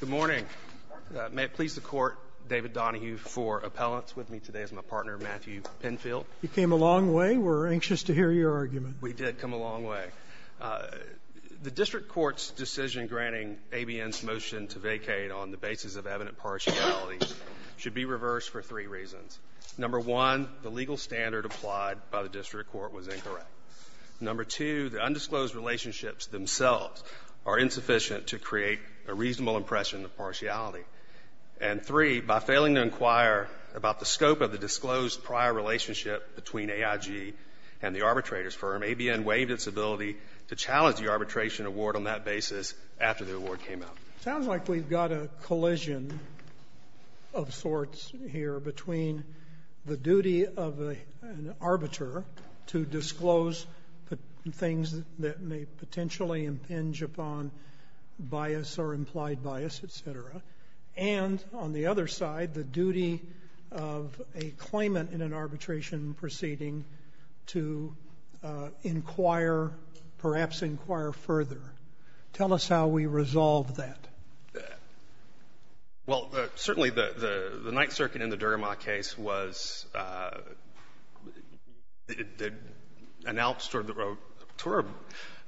Good morning. May it please the court, David Donahue for appellants. With me today is my partner Matthew Penfield. You came a long way. We're anxious to hear your argument. We did come a long way. The district court's decision granting ABN's motion to vacate on the basis of evident partiality should be reversed for three reasons. Number one, the legal standard applied by the district court was incorrect. Number two, the undisclosed relationships themselves are insufficient to create a reasonable impression of partiality. And three, by failing to inquire about the scope of the disclosed prior relationship between AIG and the arbitrator's firm, ABN waived its ability to challenge the arbitration award on that basis after the award came out. Sounds like we've got a collision of sorts here between the duty of an arbiter to disclose things that may potentially impinge upon bias or implied bias, etc., and on the other side, the duty of a claimant in an arbitration proceeding to inquire, perhaps inquire further. Tell us how we resolve that. Well, certainly the Ninth Circuit in the Durhammock case announced to her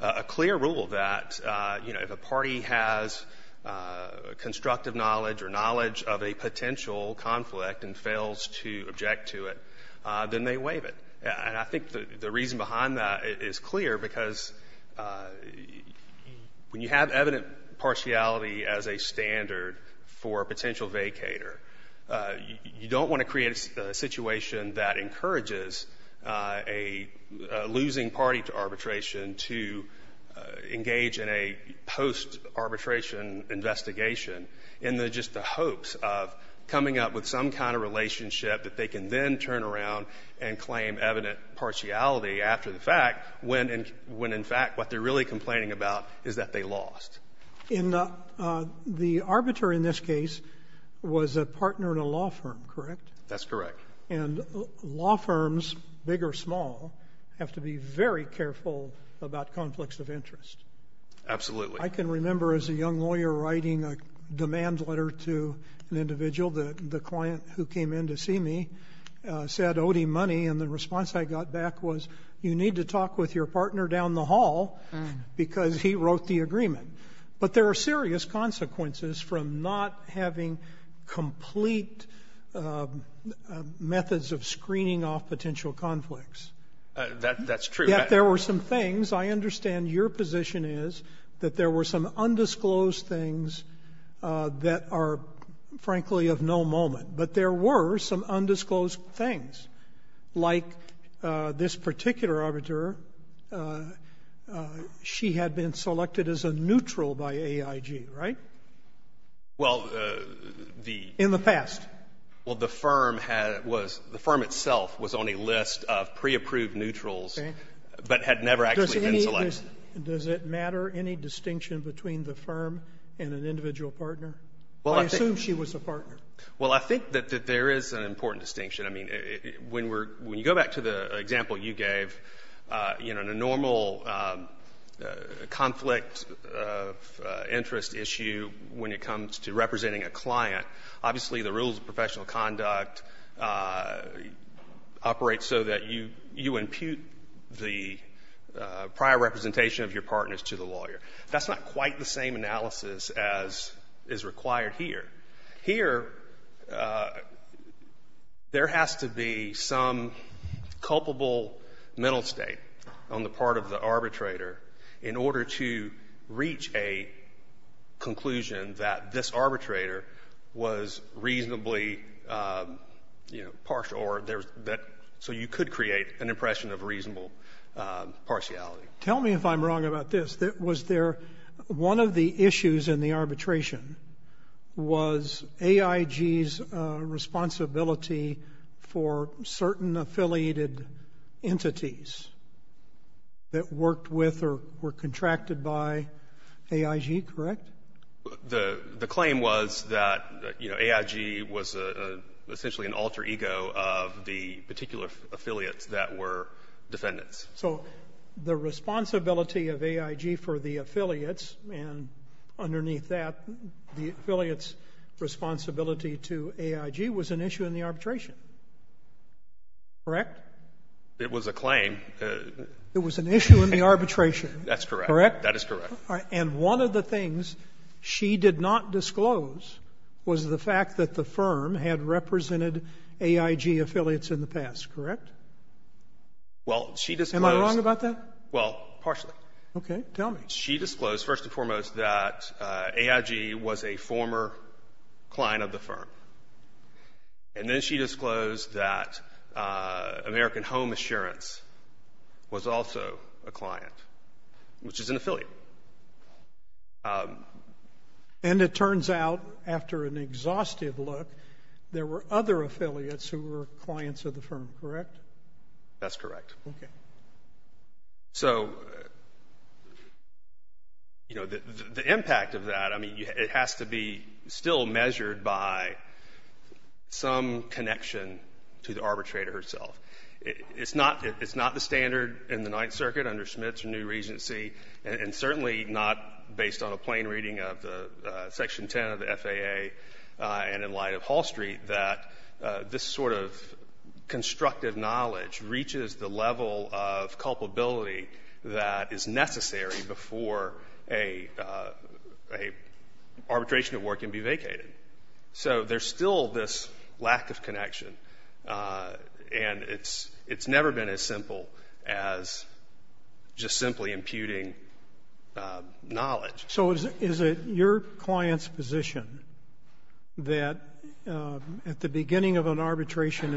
a clear rule that, you know, if a party has constructive knowledge or knowledge of a potential conflict and fails to object to it, then they waive it. And I think the reason behind that is clear because when you have evident partiality as a standard for a potential vacator, you don't want to create a situation that encourages a losing party to arbitration to engage in a post-arbitration investigation in just the hopes of coming up with some kind of relationship that they can then turn around and claim evident partiality after the fact, when in fact what they're really complaining about is that they lost. And the arbiter in this case was a partner in a law firm, correct? That's correct. And law firms, big or small, have to be very careful about conflicts of interest. Absolutely. I can remember as a young lawyer writing a demand letter to an individual, the client who came in to see me said, Odie, money, and the response I got back was, you need to talk with your partner down the hall because he wrote the agreement. But there are serious consequences from not having complete methods of screening off potential conflicts. That's true. Yet there were some things. I understand your position is that there were some undisclosed things that are, frankly, of no moment. But there were some undisclosed things. Like this particular arbiter, she had been selected as a neutral by AIG, right? Well, the ‑‑ In the past. Well, the firm had ‑‑ the firm itself was on a list of preapproved neutrals but had never actually been selected. Does it matter any distinction between the firm and an individual partner? I assume she was a partner. Well, I think that there is an important distinction. I mean, when you go back to the example you gave, you know, in a normal conflict of interest issue when it comes to representing a client, obviously the rules of professional conduct operate so that you impute the prior representation of your partners to the lawyer. That's not quite the same analysis as is required here. Here, there has to be some culpable mental state on the part of the arbitrator in order to reach a conclusion that this arbitrator was reasonably, you know, partial or so you could create an impression of reasonable partiality. Tell me if I'm wrong about this. Was there ‑‑ one of the issues in the arbitration was AIG's responsibility for certain affiliated entities that worked with or were contracted by AIG, correct? The claim was that, you know, AIG was essentially an alter ego of the particular affiliates that were defendants. So the responsibility of AIG for the affiliates and underneath that, the affiliates' responsibility to AIG was an issue in the arbitration, correct? It was a claim. It was an issue in the arbitration. That's correct. Correct? That is correct. And one of the things she did not disclose was the fact that the firm had represented AIG affiliates in the past, correct? Well, she disclosed ‑‑ Am I wrong about that? Well, partially. Okay. She disclosed, first and foremost, that AIG was a former client of the firm. And then she disclosed that American Home Assurance was also a client, which is an affiliate. And it turns out, after an exhaustive look, there were other affiliates who were clients of the firm, correct? That's correct. Okay. So, you know, the impact of that, I mean, it has to be still measured by some connection to the arbitrator herself. It's not the standard in the Ninth Circuit under Schmidt's new regency, and certainly not based on a plain reading of Section 10 of the FAA and in light of Hall Street, that this sort of constructive knowledge reaches the level of culpability that is necessary before an arbitration at work can be vacated. So there's still this lack of connection, and it's never been as simple as just simply imputing knowledge. So is it your client's position that at the beginning of an arbitration,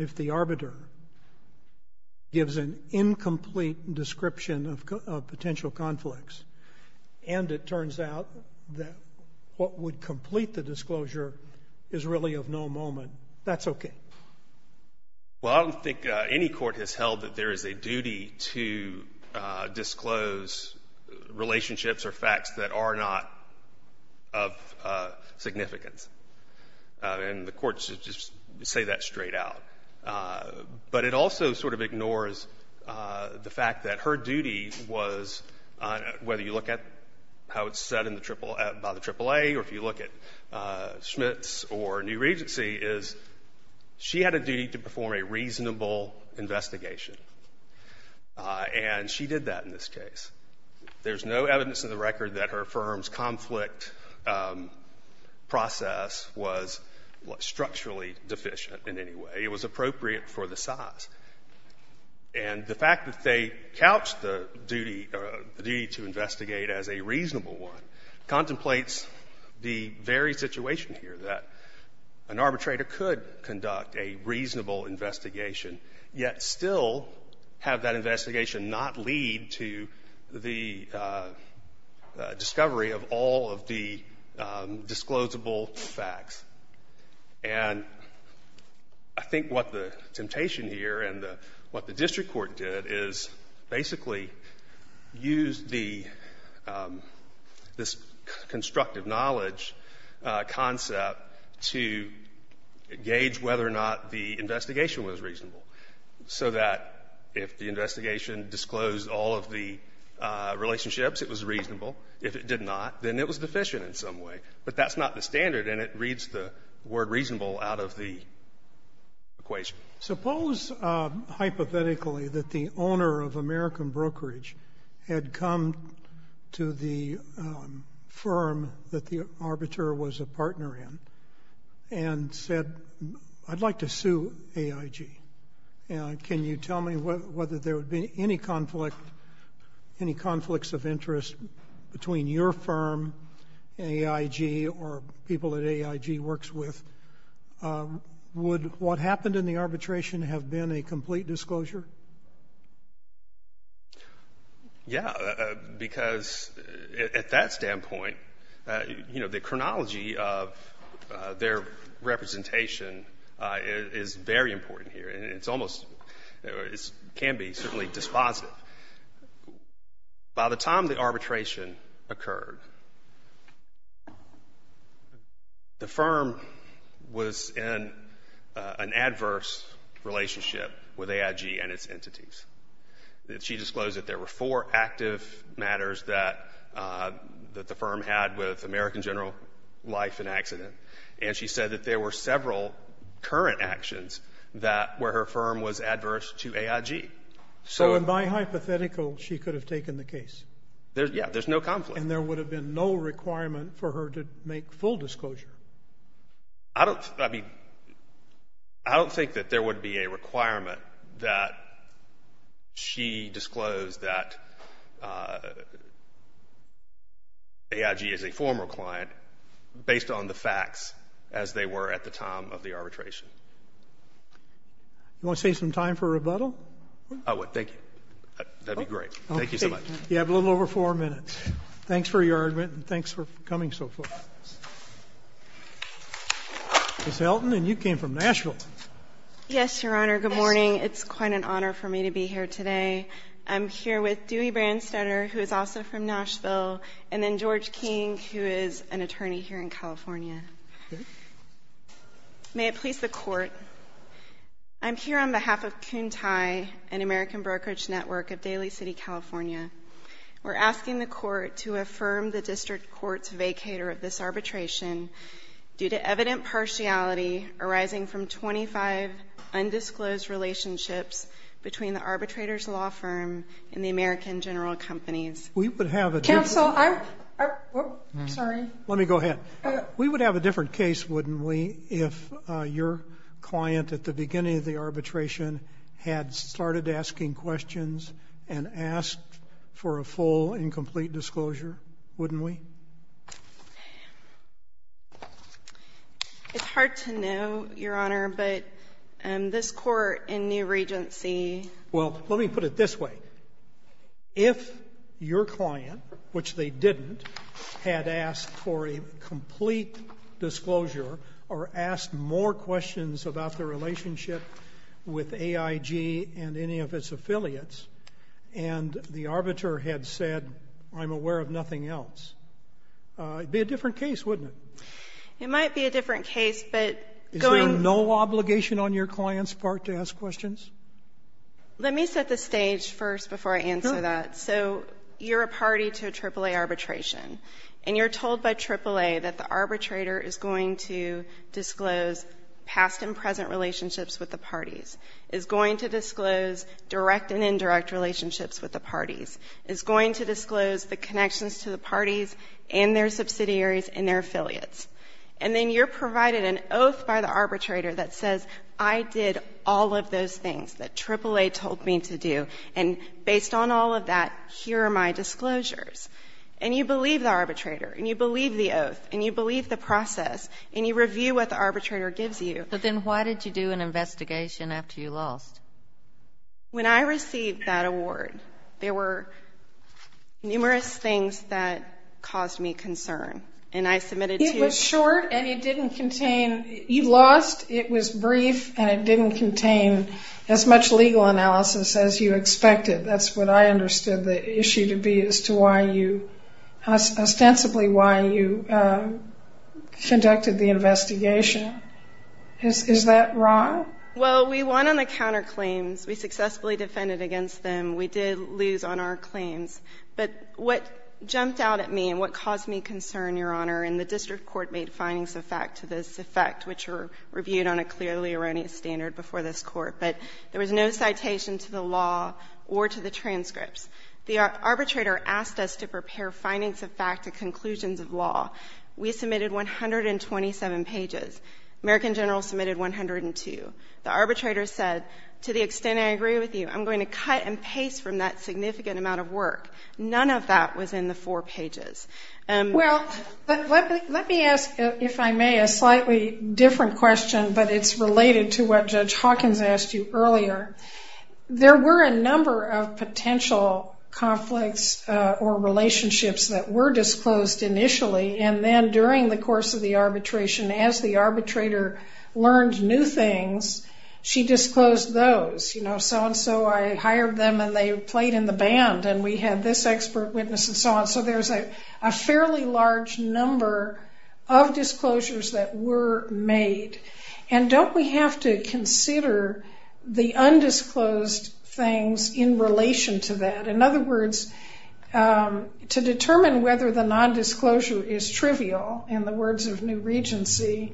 if the arbiter gives an incomplete description of potential conflicts and it turns out that what would complete the disclosure is really of no moment, that's okay? Well, I don't think any court has held that there is a duty to disclose relationships or facts that are not of significance. And the courts just say that straight out. But it also sort of ignores the fact that her duty was, whether you look at how it's said by the AAA or if you look at Schmidt's or new regency, is she had a duty to perform a reasonable investigation. And she did that in this case. There's no evidence in the record that her firm's conflict process was structurally deficient in any way. It was appropriate for the size. And the fact that they couched the duty to investigate as a reasonable one contemplates the very situation here that an arbitrator could conduct a reasonable investigation, yet still have that investigation not lead to the discovery of all of the disclosable facts. And I think what the temptation here and what the district court did is basically use the — this constructive knowledge concept to gauge whether or not the investigation was reasonable, so that if the investigation disclosed all of the relationships, it was reasonable. If it did not, then it was deficient in some way. But that's not the standard, and it reads the word reasonable out of the equation. Suppose, hypothetically, that the owner of American Brokerage had come to the firm that the arbitrator was a partner in and said, I'd like to sue AIG. Can you tell me whether there would be any conflict, any conflicts of interest between your firm, AIG, or people that AIG works with? Would what happened in the arbitration have been a complete disclosure? Yeah, because at that standpoint, you know, the chronology of their representation is very important here, and it's almost — it can be certainly dispositive. By the time the arbitration occurred, the firm was in an adverse relationship with AIG, and its entities. She disclosed that there were four active matters that the firm had with American General Life in accident, and she said that there were several current actions that — where her firm was adverse to AIG. So in my hypothetical, she could have taken the case? Yeah, there's no conflict. And there would have been no requirement for her to make full disclosure? I don't — I mean, I don't think that there would be a requirement that she disclose that AIG is a former client based on the facts as they were at the time of the arbitration. You want to save some time for rebuttal? I would. Thank you. That'd be great. Thank you so much. Okay. You have a little over four minutes. Thanks for your argument, and thanks for coming so far. Ms. Elton, and you came from Nashville. Yes, Your Honor. Good morning. It's quite an honor for me to be here today. I'm here with Dewey Branstetter, who is also from Nashville, and then George King, who is an attorney here in California. Okay. May it please the Court, I'm here on behalf of Kuntai, an American brokerage network of Daly City, California. We're asking the Court to affirm the district court's vacator of this arbitration due to evident partiality arising from 25 undisclosed relationships between the arbitrator's law firm and the American General Companies. We would have a different — Counsel, I'm — sorry. Let me go ahead. We would have a different case, wouldn't we, if your client at the beginning of the arbitration had started asking questions and asked for a full and complete disclosure, wouldn't we? It's hard to know, Your Honor, but this Court in New Regency — Well, let me put it this way. If your client, which they didn't, had asked for a complete disclosure or asked more questions about their relationship with AIG and any of its affiliates and the arbiter had said, I'm aware of nothing else, it would be a different case, wouldn't it? It might be a different case, but going — Is there no obligation on your client's part to ask questions? Let me set the stage first before I answer that. So you're a party to a AAA arbitration, and you're told by AAA that the arbitrator is going to disclose past and present relationships with the parties, is going to disclose direct and indirect relationships with the parties, is going to disclose the connections to the parties and their subsidiaries and their affiliates. And then you're provided an oath by the arbitrator that says, I did all of those things that AAA told me to do, and based on all of that, here are my disclosures. And you believe the arbitrator, and you believe the oath, and you believe the process, and you review what the arbitrator gives you. But then why did you do an investigation after you lost? When I received that award, there were numerous things that caused me concern, and I submitted to — It was short, and it didn't contain — you lost, it was brief, and it didn't contain as much legal analysis as you expected. That's what I understood the issue to be as to why you — ostensibly why you conducted the investigation. Is that wrong? Well, we won on the counterclaims. We successfully defended against them. We did lose on our claims. But what jumped out at me and what caused me concern, Your Honor, and the district court made findings of fact to this effect, which were reviewed on a clearly erroneous standard before this Court, but there was no citation to the law or to the transcripts. The arbitrator asked us to prepare findings of fact to conclusions of law. We submitted 127 pages. American General submitted 102. The arbitrator said, to the extent I agree with you, I'm going to cut and paste from that significant amount of work. None of that was in the four pages. Well, let me ask, if I may, a slightly different question, but it's related to what Judge Hawkins asked you earlier. There were a number of potential conflicts or relationships that were disclosed initially, and then during the course of the arbitration, as the arbitrator learned new things, she disclosed those. You know, so-and-so, I hired them, and they played in the band, and we had this expert witness and so on. So there's a fairly large number of disclosures that were made. And don't we have to consider the undisclosed things in relation to that? In other words, to determine whether the nondisclosure is trivial, in the words of New Regency,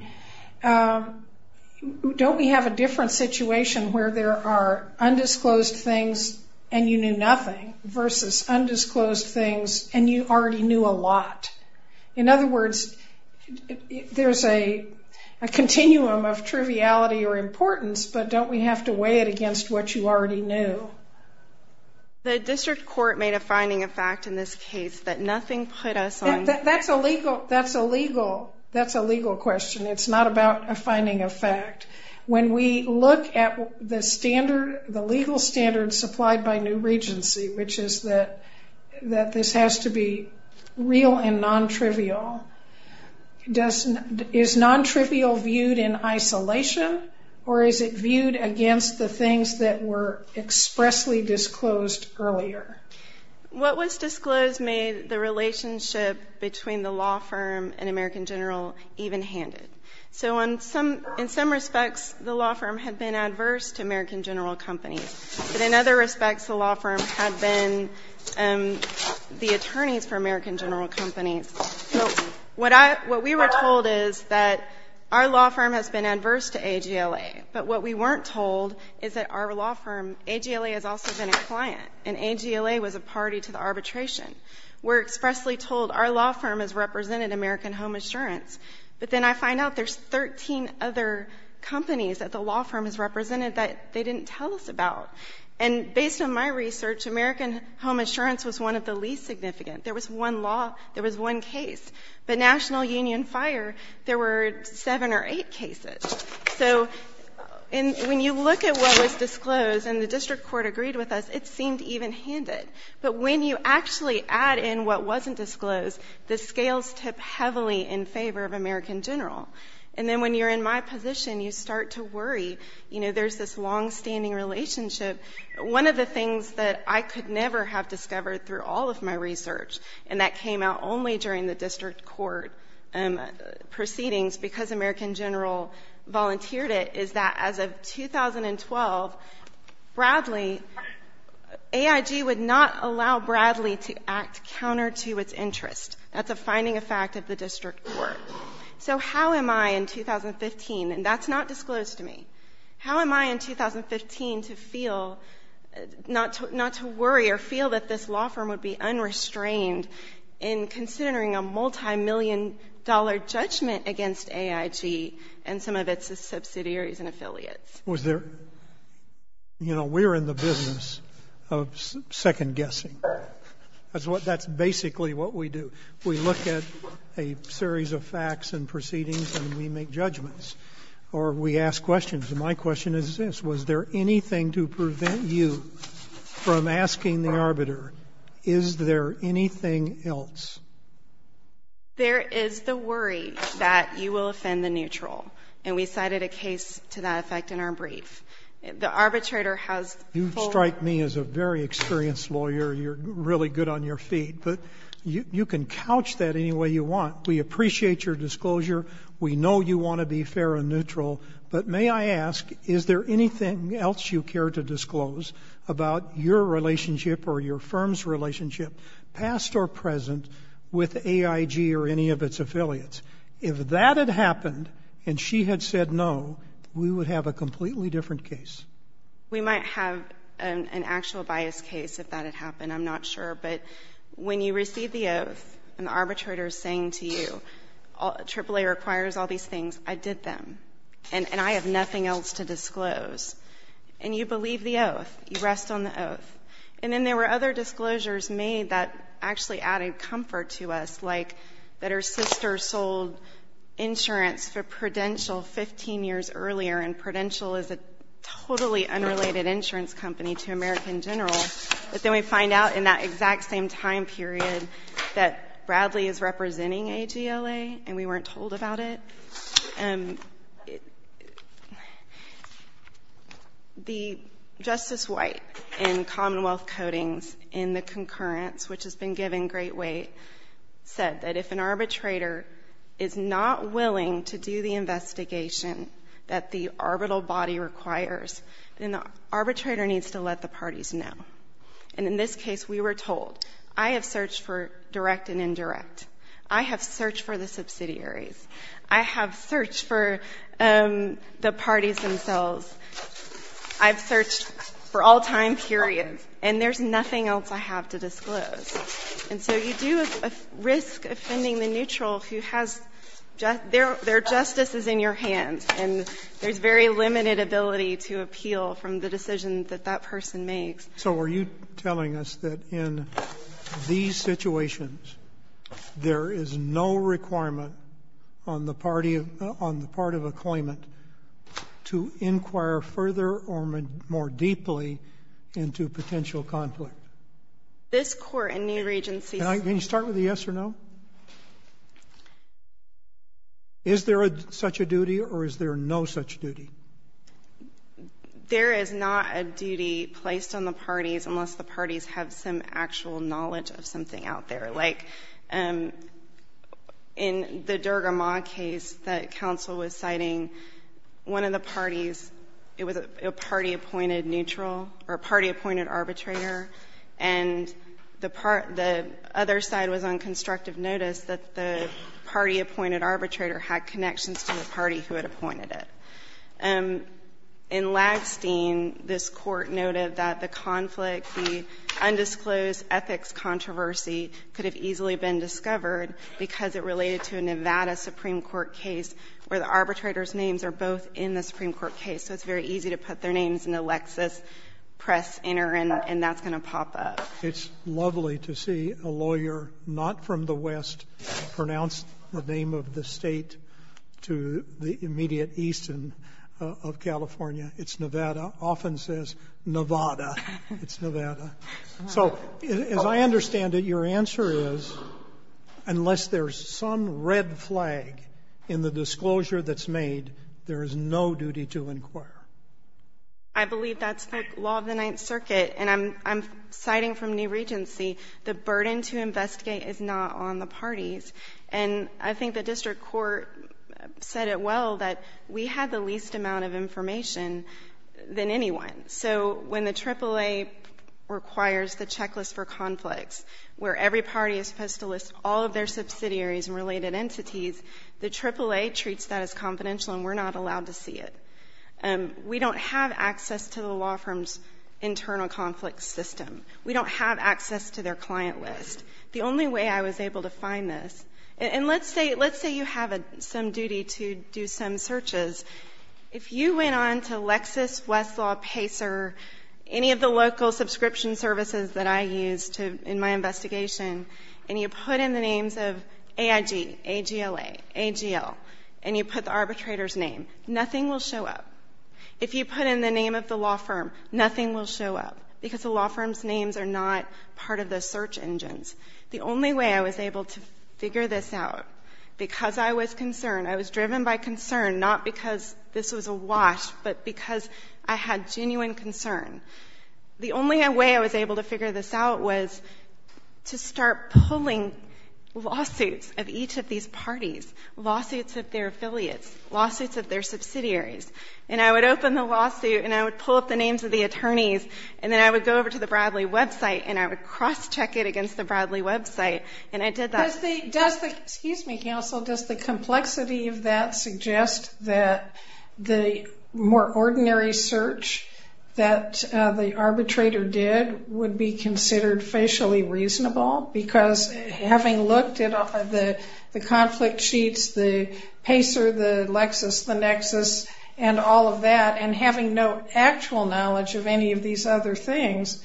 don't we have a different situation where there are undisclosed things and you knew nothing versus undisclosed things and you already knew a lot? In other words, there's a continuum of triviality or importance, but don't we have to weigh it against what you already knew? The district court made a finding of fact in this case that nothing put us on. That's a legal question. It's not about a finding of fact. When we look at the legal standards supplied by New Regency, which is that this has to be real and non-trivial, is non-trivial viewed in isolation, or is it viewed against the things that were expressly disclosed earlier? What was disclosed made the relationship between the law firm and American General even-handed. So in some respects, the law firm had been adverse to American General Companies, but in other respects, the law firm had been the attorneys for American General Companies. So what we were told is that our law firm has been adverse to AGLA, but what we weren't told is that our law firm, AGLA, has also been a client, and AGLA was a party to the arbitration. We're expressly told our law firm has represented American Home Assurance, but then I find out there's 13 other companies that the law firm has represented that they didn't tell us about. And based on my research, American Home Assurance was one of the least significant. There was one law. There was one case. But National Union Fire, there were seven or eight cases. So when you look at what was disclosed and the district court agreed with us, it seemed even-handed. But when you actually add in what wasn't disclosed, the scales tip heavily in favor of American General. And then when you're in my position, you start to worry. You know, there's this longstanding relationship. One of the things that I could never have discovered through all of my research, and that came out only during the district court proceedings because American General volunteered it, is that as of 2012, Bradley, AIG would not allow Bradley to act counter to its interest. That's a finding of fact of the district court. So how am I in 2015, and that's not disclosed to me, how am I in 2015 to feel, not to worry or feel that this law firm would be unrestrained in considering a multimillion-dollar judgment against AIG and some of its subsidiaries and affiliates? Was there — you know, we're in the business of second-guessing. That's what — that's basically what we do. We look at a series of facts and proceedings, and we make judgments. Or we ask questions. And my question is this. Was there anything to prevent you from asking the arbiter, is there anything else? There is the worry that you will offend the neutral. And we cited a case to that effect in our brief. The arbitrator has — You strike me as a very experienced lawyer. You're really good on your feet. But you can couch that any way you want. We appreciate your disclosure. We know you want to be fair and neutral. But may I ask, is there anything else you care to disclose about your relationship or your firm's relationship, past or present, with AIG or any of its affiliates? If that had happened and she had said no, we would have a completely different case. We might have an actual bias case if that had happened. I'm not sure. But when you receive the oath and the arbitrator is saying to you, AAA requires all these things, I did them. And I have nothing else to disclose. And you believe the oath. You rest on the oath. And then there were other disclosures made that actually added comfort to us, like that her sister sold insurance for Prudential 15 years earlier, and Prudential is a totally unrelated insurance company to American General. But then we find out in that exact same time period that Bradley is representing AGLA and we weren't told about it. The Justice White in Commonwealth Codings in the concurrence, which has been given great weight, said that if an arbitrator is not willing to do the investigation that the arbitral body requires, then the arbitrator needs to let the parties know. And in this case, we were told, I have searched for direct and indirect. I have searched for the subsidiaries. I have searched for the parties themselves. I've searched for all time periods. And there's nothing else I have to disclose. And so you do risk offending the neutral who has their justices in your hand. And there's very limited ability to appeal from the decision that that person makes. So are you telling us that in these situations, there is no requirement on the part of a claimant to inquire further or more deeply into potential conflict? This Court in New Regency says no. Can you start with a yes or no? Is there such a duty or is there no such duty? There is not a duty placed on the parties unless the parties have some actual knowledge of something out there. Like in the Dergamont case that counsel was citing, one of the parties, it was a party-appointed neutral or party-appointed arbitrator. And the other side was on constructive notice that the party-appointed arbitrator had connections to the party who had appointed it. In Lagstein, this Court noted that the conflict, the undisclosed ethics controversy could have easily been discovered because it related to a Nevada Supreme Court case where the arbitrator's names are both in the Supreme Court case. So it's very easy to put their names in a Lexus, press enter, and that's going to pop up. It's lovely to see a lawyer not from the West pronounce the name of the State to the immediate eastern of California. It's Nevada. It often says Nevada. It's Nevada. So as I understand it, your answer is unless there's some red flag in the disclosure that's made, there is no duty to inquire. I believe that's the law of the Ninth Circuit. And I'm citing from New Regency, the burden to investigate is not on the parties. And I think the district court said it well, that we had the least amount of information than anyone. So when the AAA requires the checklist for conflicts, where every party is supposed to list all of their subsidiaries and related entities, the AAA treats that as confidential and we're not allowed to see it. We don't have access to the law firm's internal conflict system. We don't have access to their client list. The only way I was able to find this, and let's say you have some duty to do some searches. If you went on to Lexus, Westlaw, Pacer, any of the local subscription services that I use in my investigation, and you put in the names of AIG, AGLA, AGL, and you put the arbitrator's name, nothing will show up. If you put in the name of the law firm, nothing will show up because the law firm's names are not part of the search engines. The only way I was able to figure this out, because I was concerned, I was driven by concern, not because this was a wash, but because I had genuine concern. The only way I was able to figure this out was to start pulling lawsuits of each of these parties, lawsuits of their affiliates, lawsuits of their subsidiaries, and I would open the lawsuit and I would pull up the names of the attorneys, and then I would go over to the Bradley website and I would cross-check it against the Bradley website, and I did that. Excuse me, counsel. Does the complexity of that suggest that the more ordinary search that the arbitrator did would be considered facially reasonable? Because having looked at the conflict sheets, the Pacer, the Lexus, the Nexus, and all of that, and having no actual knowledge of any of these other things,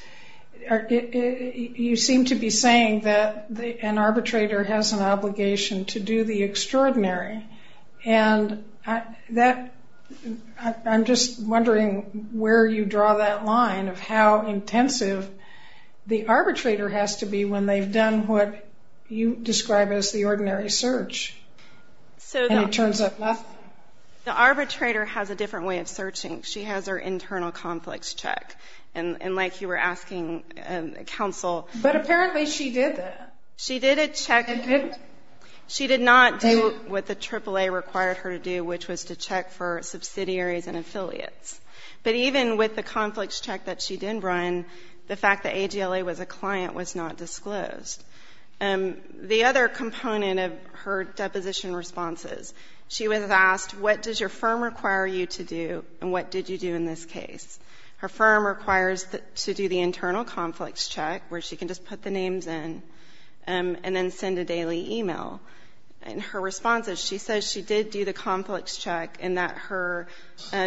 you seem to be saying that an arbitrator has an obligation to do the extraordinary, and I'm just wondering where you draw that line of how intensive the arbitrator has to be when they've done what you describe as the ordinary search, and it turns out nothing. The arbitrator has a different way of searching. She has her internal conflicts check, and like you were asking, counsel. But apparently she did that. She did a check. She did not do what the AAA required her to do, which was to check for subsidiaries and affiliates. But even with the conflicts check that she did run, the fact that AGLA was a client was not disclosed. The other component of her deposition responses, she was asked, what does your firm require you to do, and what did you do in this case? Her firm requires to do the internal conflicts check, where she can just put the names in and then send a daily e-mail. And her response is she says she did do the conflicts check, and that her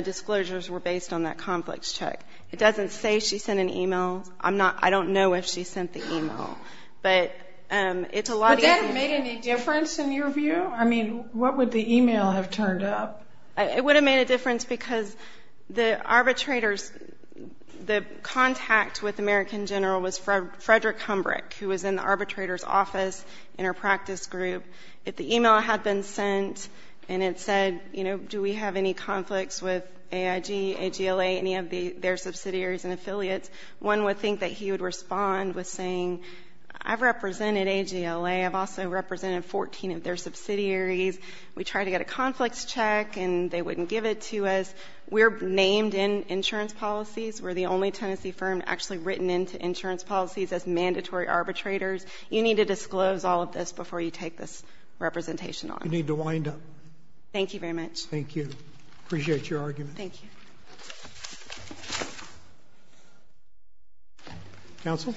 disclosures were based on that conflicts check. It doesn't say she sent an e-mail. I don't know if she sent the e-mail, but it's a lot easier. Would that have made any difference in your view? I mean, what would the e-mail have turned up? It would have made a difference because the arbitrators, the contact with the American general was Frederick Humbrick, who was in the arbitrator's office in her practice group. If the e-mail had been sent and it said, you know, do we have any conflicts with AIG, AGLA, any of their subsidiaries and affiliates, one would think that he would respond with saying, I've represented AGLA. I've also represented 14 of their subsidiaries. We tried to get a conflicts check and they wouldn't give it to us. We're named in insurance policies. We're the only Tennessee firm actually written into insurance policies as mandatory arbitrators. You need to disclose all of this before you take this representation on. You need to wind up. Thank you very much. Thank you. I appreciate your argument. Thank you. Counsel?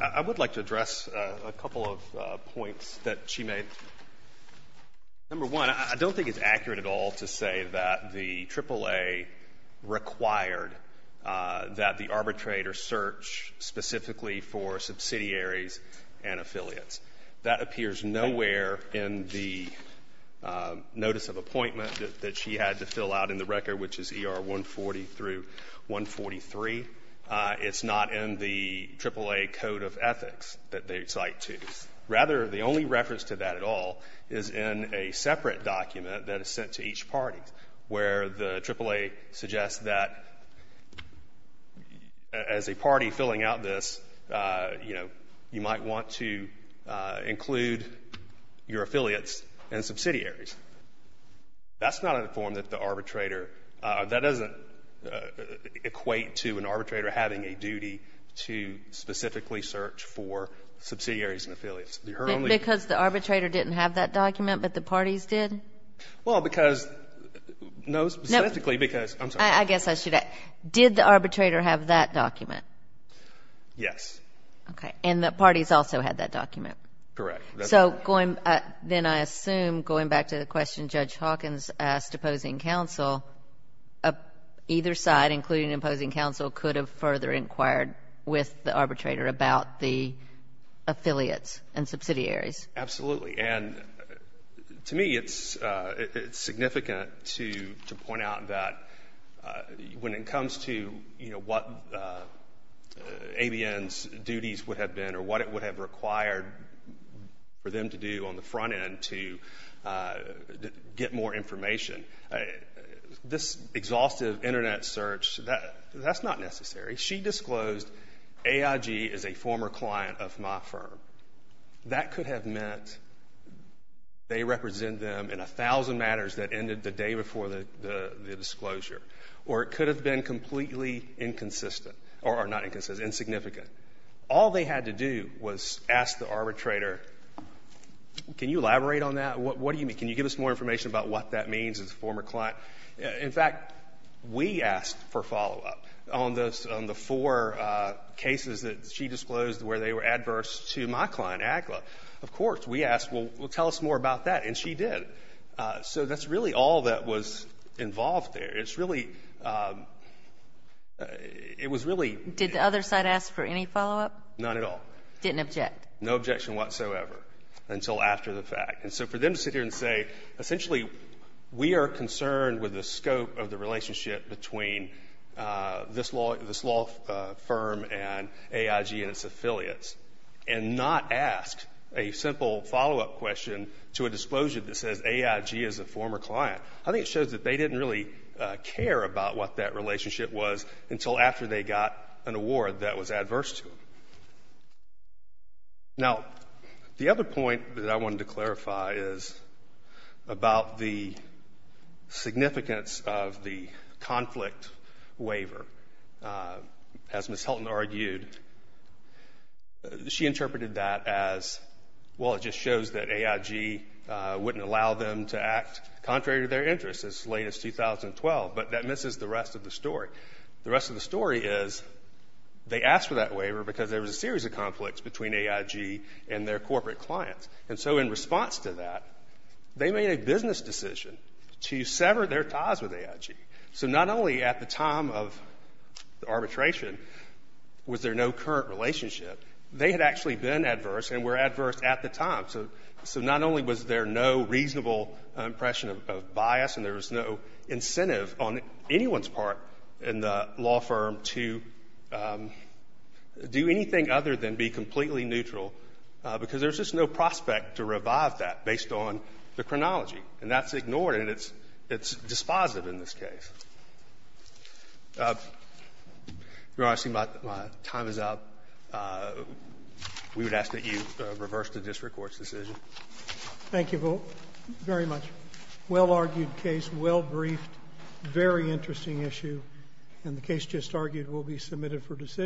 I would like to address a couple of points that she made. Number one, I don't think it's accurate at all to say that the AAA required that the arbitrator search specifically for subsidiaries and affiliates. That appears nowhere in the notice of appointment that she had to fill out in the record, which is ER 140 through 143. It's not in the AAA code of ethics that they cite to. Rather, the only reference to that at all is in a separate document that is sent to each party where the AAA suggests that as a party filling out this, you know, you might want to include your affiliates and subsidiaries. That's not in the form that the arbitrator, that doesn't equate to an arbitrator having a duty to specifically search for subsidiaries and affiliates. Because the arbitrator didn't have that document, but the parties did? Well, because, no, specifically because. I guess I should ask, did the arbitrator have that document? Yes. Okay. And the parties also had that document? Correct. So then I assume, going back to the question Judge Hawkins asked opposing counsel, either side, including opposing counsel, could have further inquired with the arbitrator about the affiliates and subsidiaries. Absolutely. And to me it's significant to point out that when it comes to, you know, what ABN's duties would have been or what it would have required for them to do on the front end to get more information, this exhaustive Internet search, that's not necessary. She disclosed AIG is a former client of my firm. That could have meant they represent them in a thousand matters that ended the day before the disclosure. Or it could have been completely inconsistent. Or not inconsistent, insignificant. All they had to do was ask the arbitrator, can you elaborate on that? What do you mean? Can you give us more information about what that means as a former client? In fact, we asked for follow-up on the four cases that she disclosed where they were adverse to my client, Agla. Of course, we asked, well, tell us more about that. And she did. So that's really all that was involved there. It's really, it was really. Did the other side ask for any follow-up? Not at all. Didn't object. No objection whatsoever until after the fact. And so for them to sit here and say, essentially we are concerned with the scope of the relationship between this law firm and AIG and its affiliates and not ask a simple follow-up question to a disclosure that says AIG is a former client. I think it shows that they didn't really care about what that relationship was until after they got an award that was adverse to them. Now, the other point that I wanted to clarify is about the significance of the conflict waiver. As Ms. Hilton argued, she interpreted that as, well, it just shows that AIG wouldn't allow them to act contrary to their interests as late as 2012, but that misses the rest of the story. The rest of the story is they asked for that waiver because there was a series of conflicts between AIG and their corporate clients. And so in response to that, they made a business decision to sever their ties with AIG. So not only at the time of arbitration was there no current relationship, they had actually been adverse and were adverse at the time. So not only was there no reasonable impression of bias and there was no incentive on anyone's part in the law firm to do anything other than be completely neutral, because there's just no prospect to revive that based on the chronology. And that's ignored, and it's dispositive in this case. Your Honor, I see my time is up. We would ask that you reverse the district court's decision. Thank you very much. Well-argued case, well-briefed, very interesting issue, and the case just argued will be submitted for decision.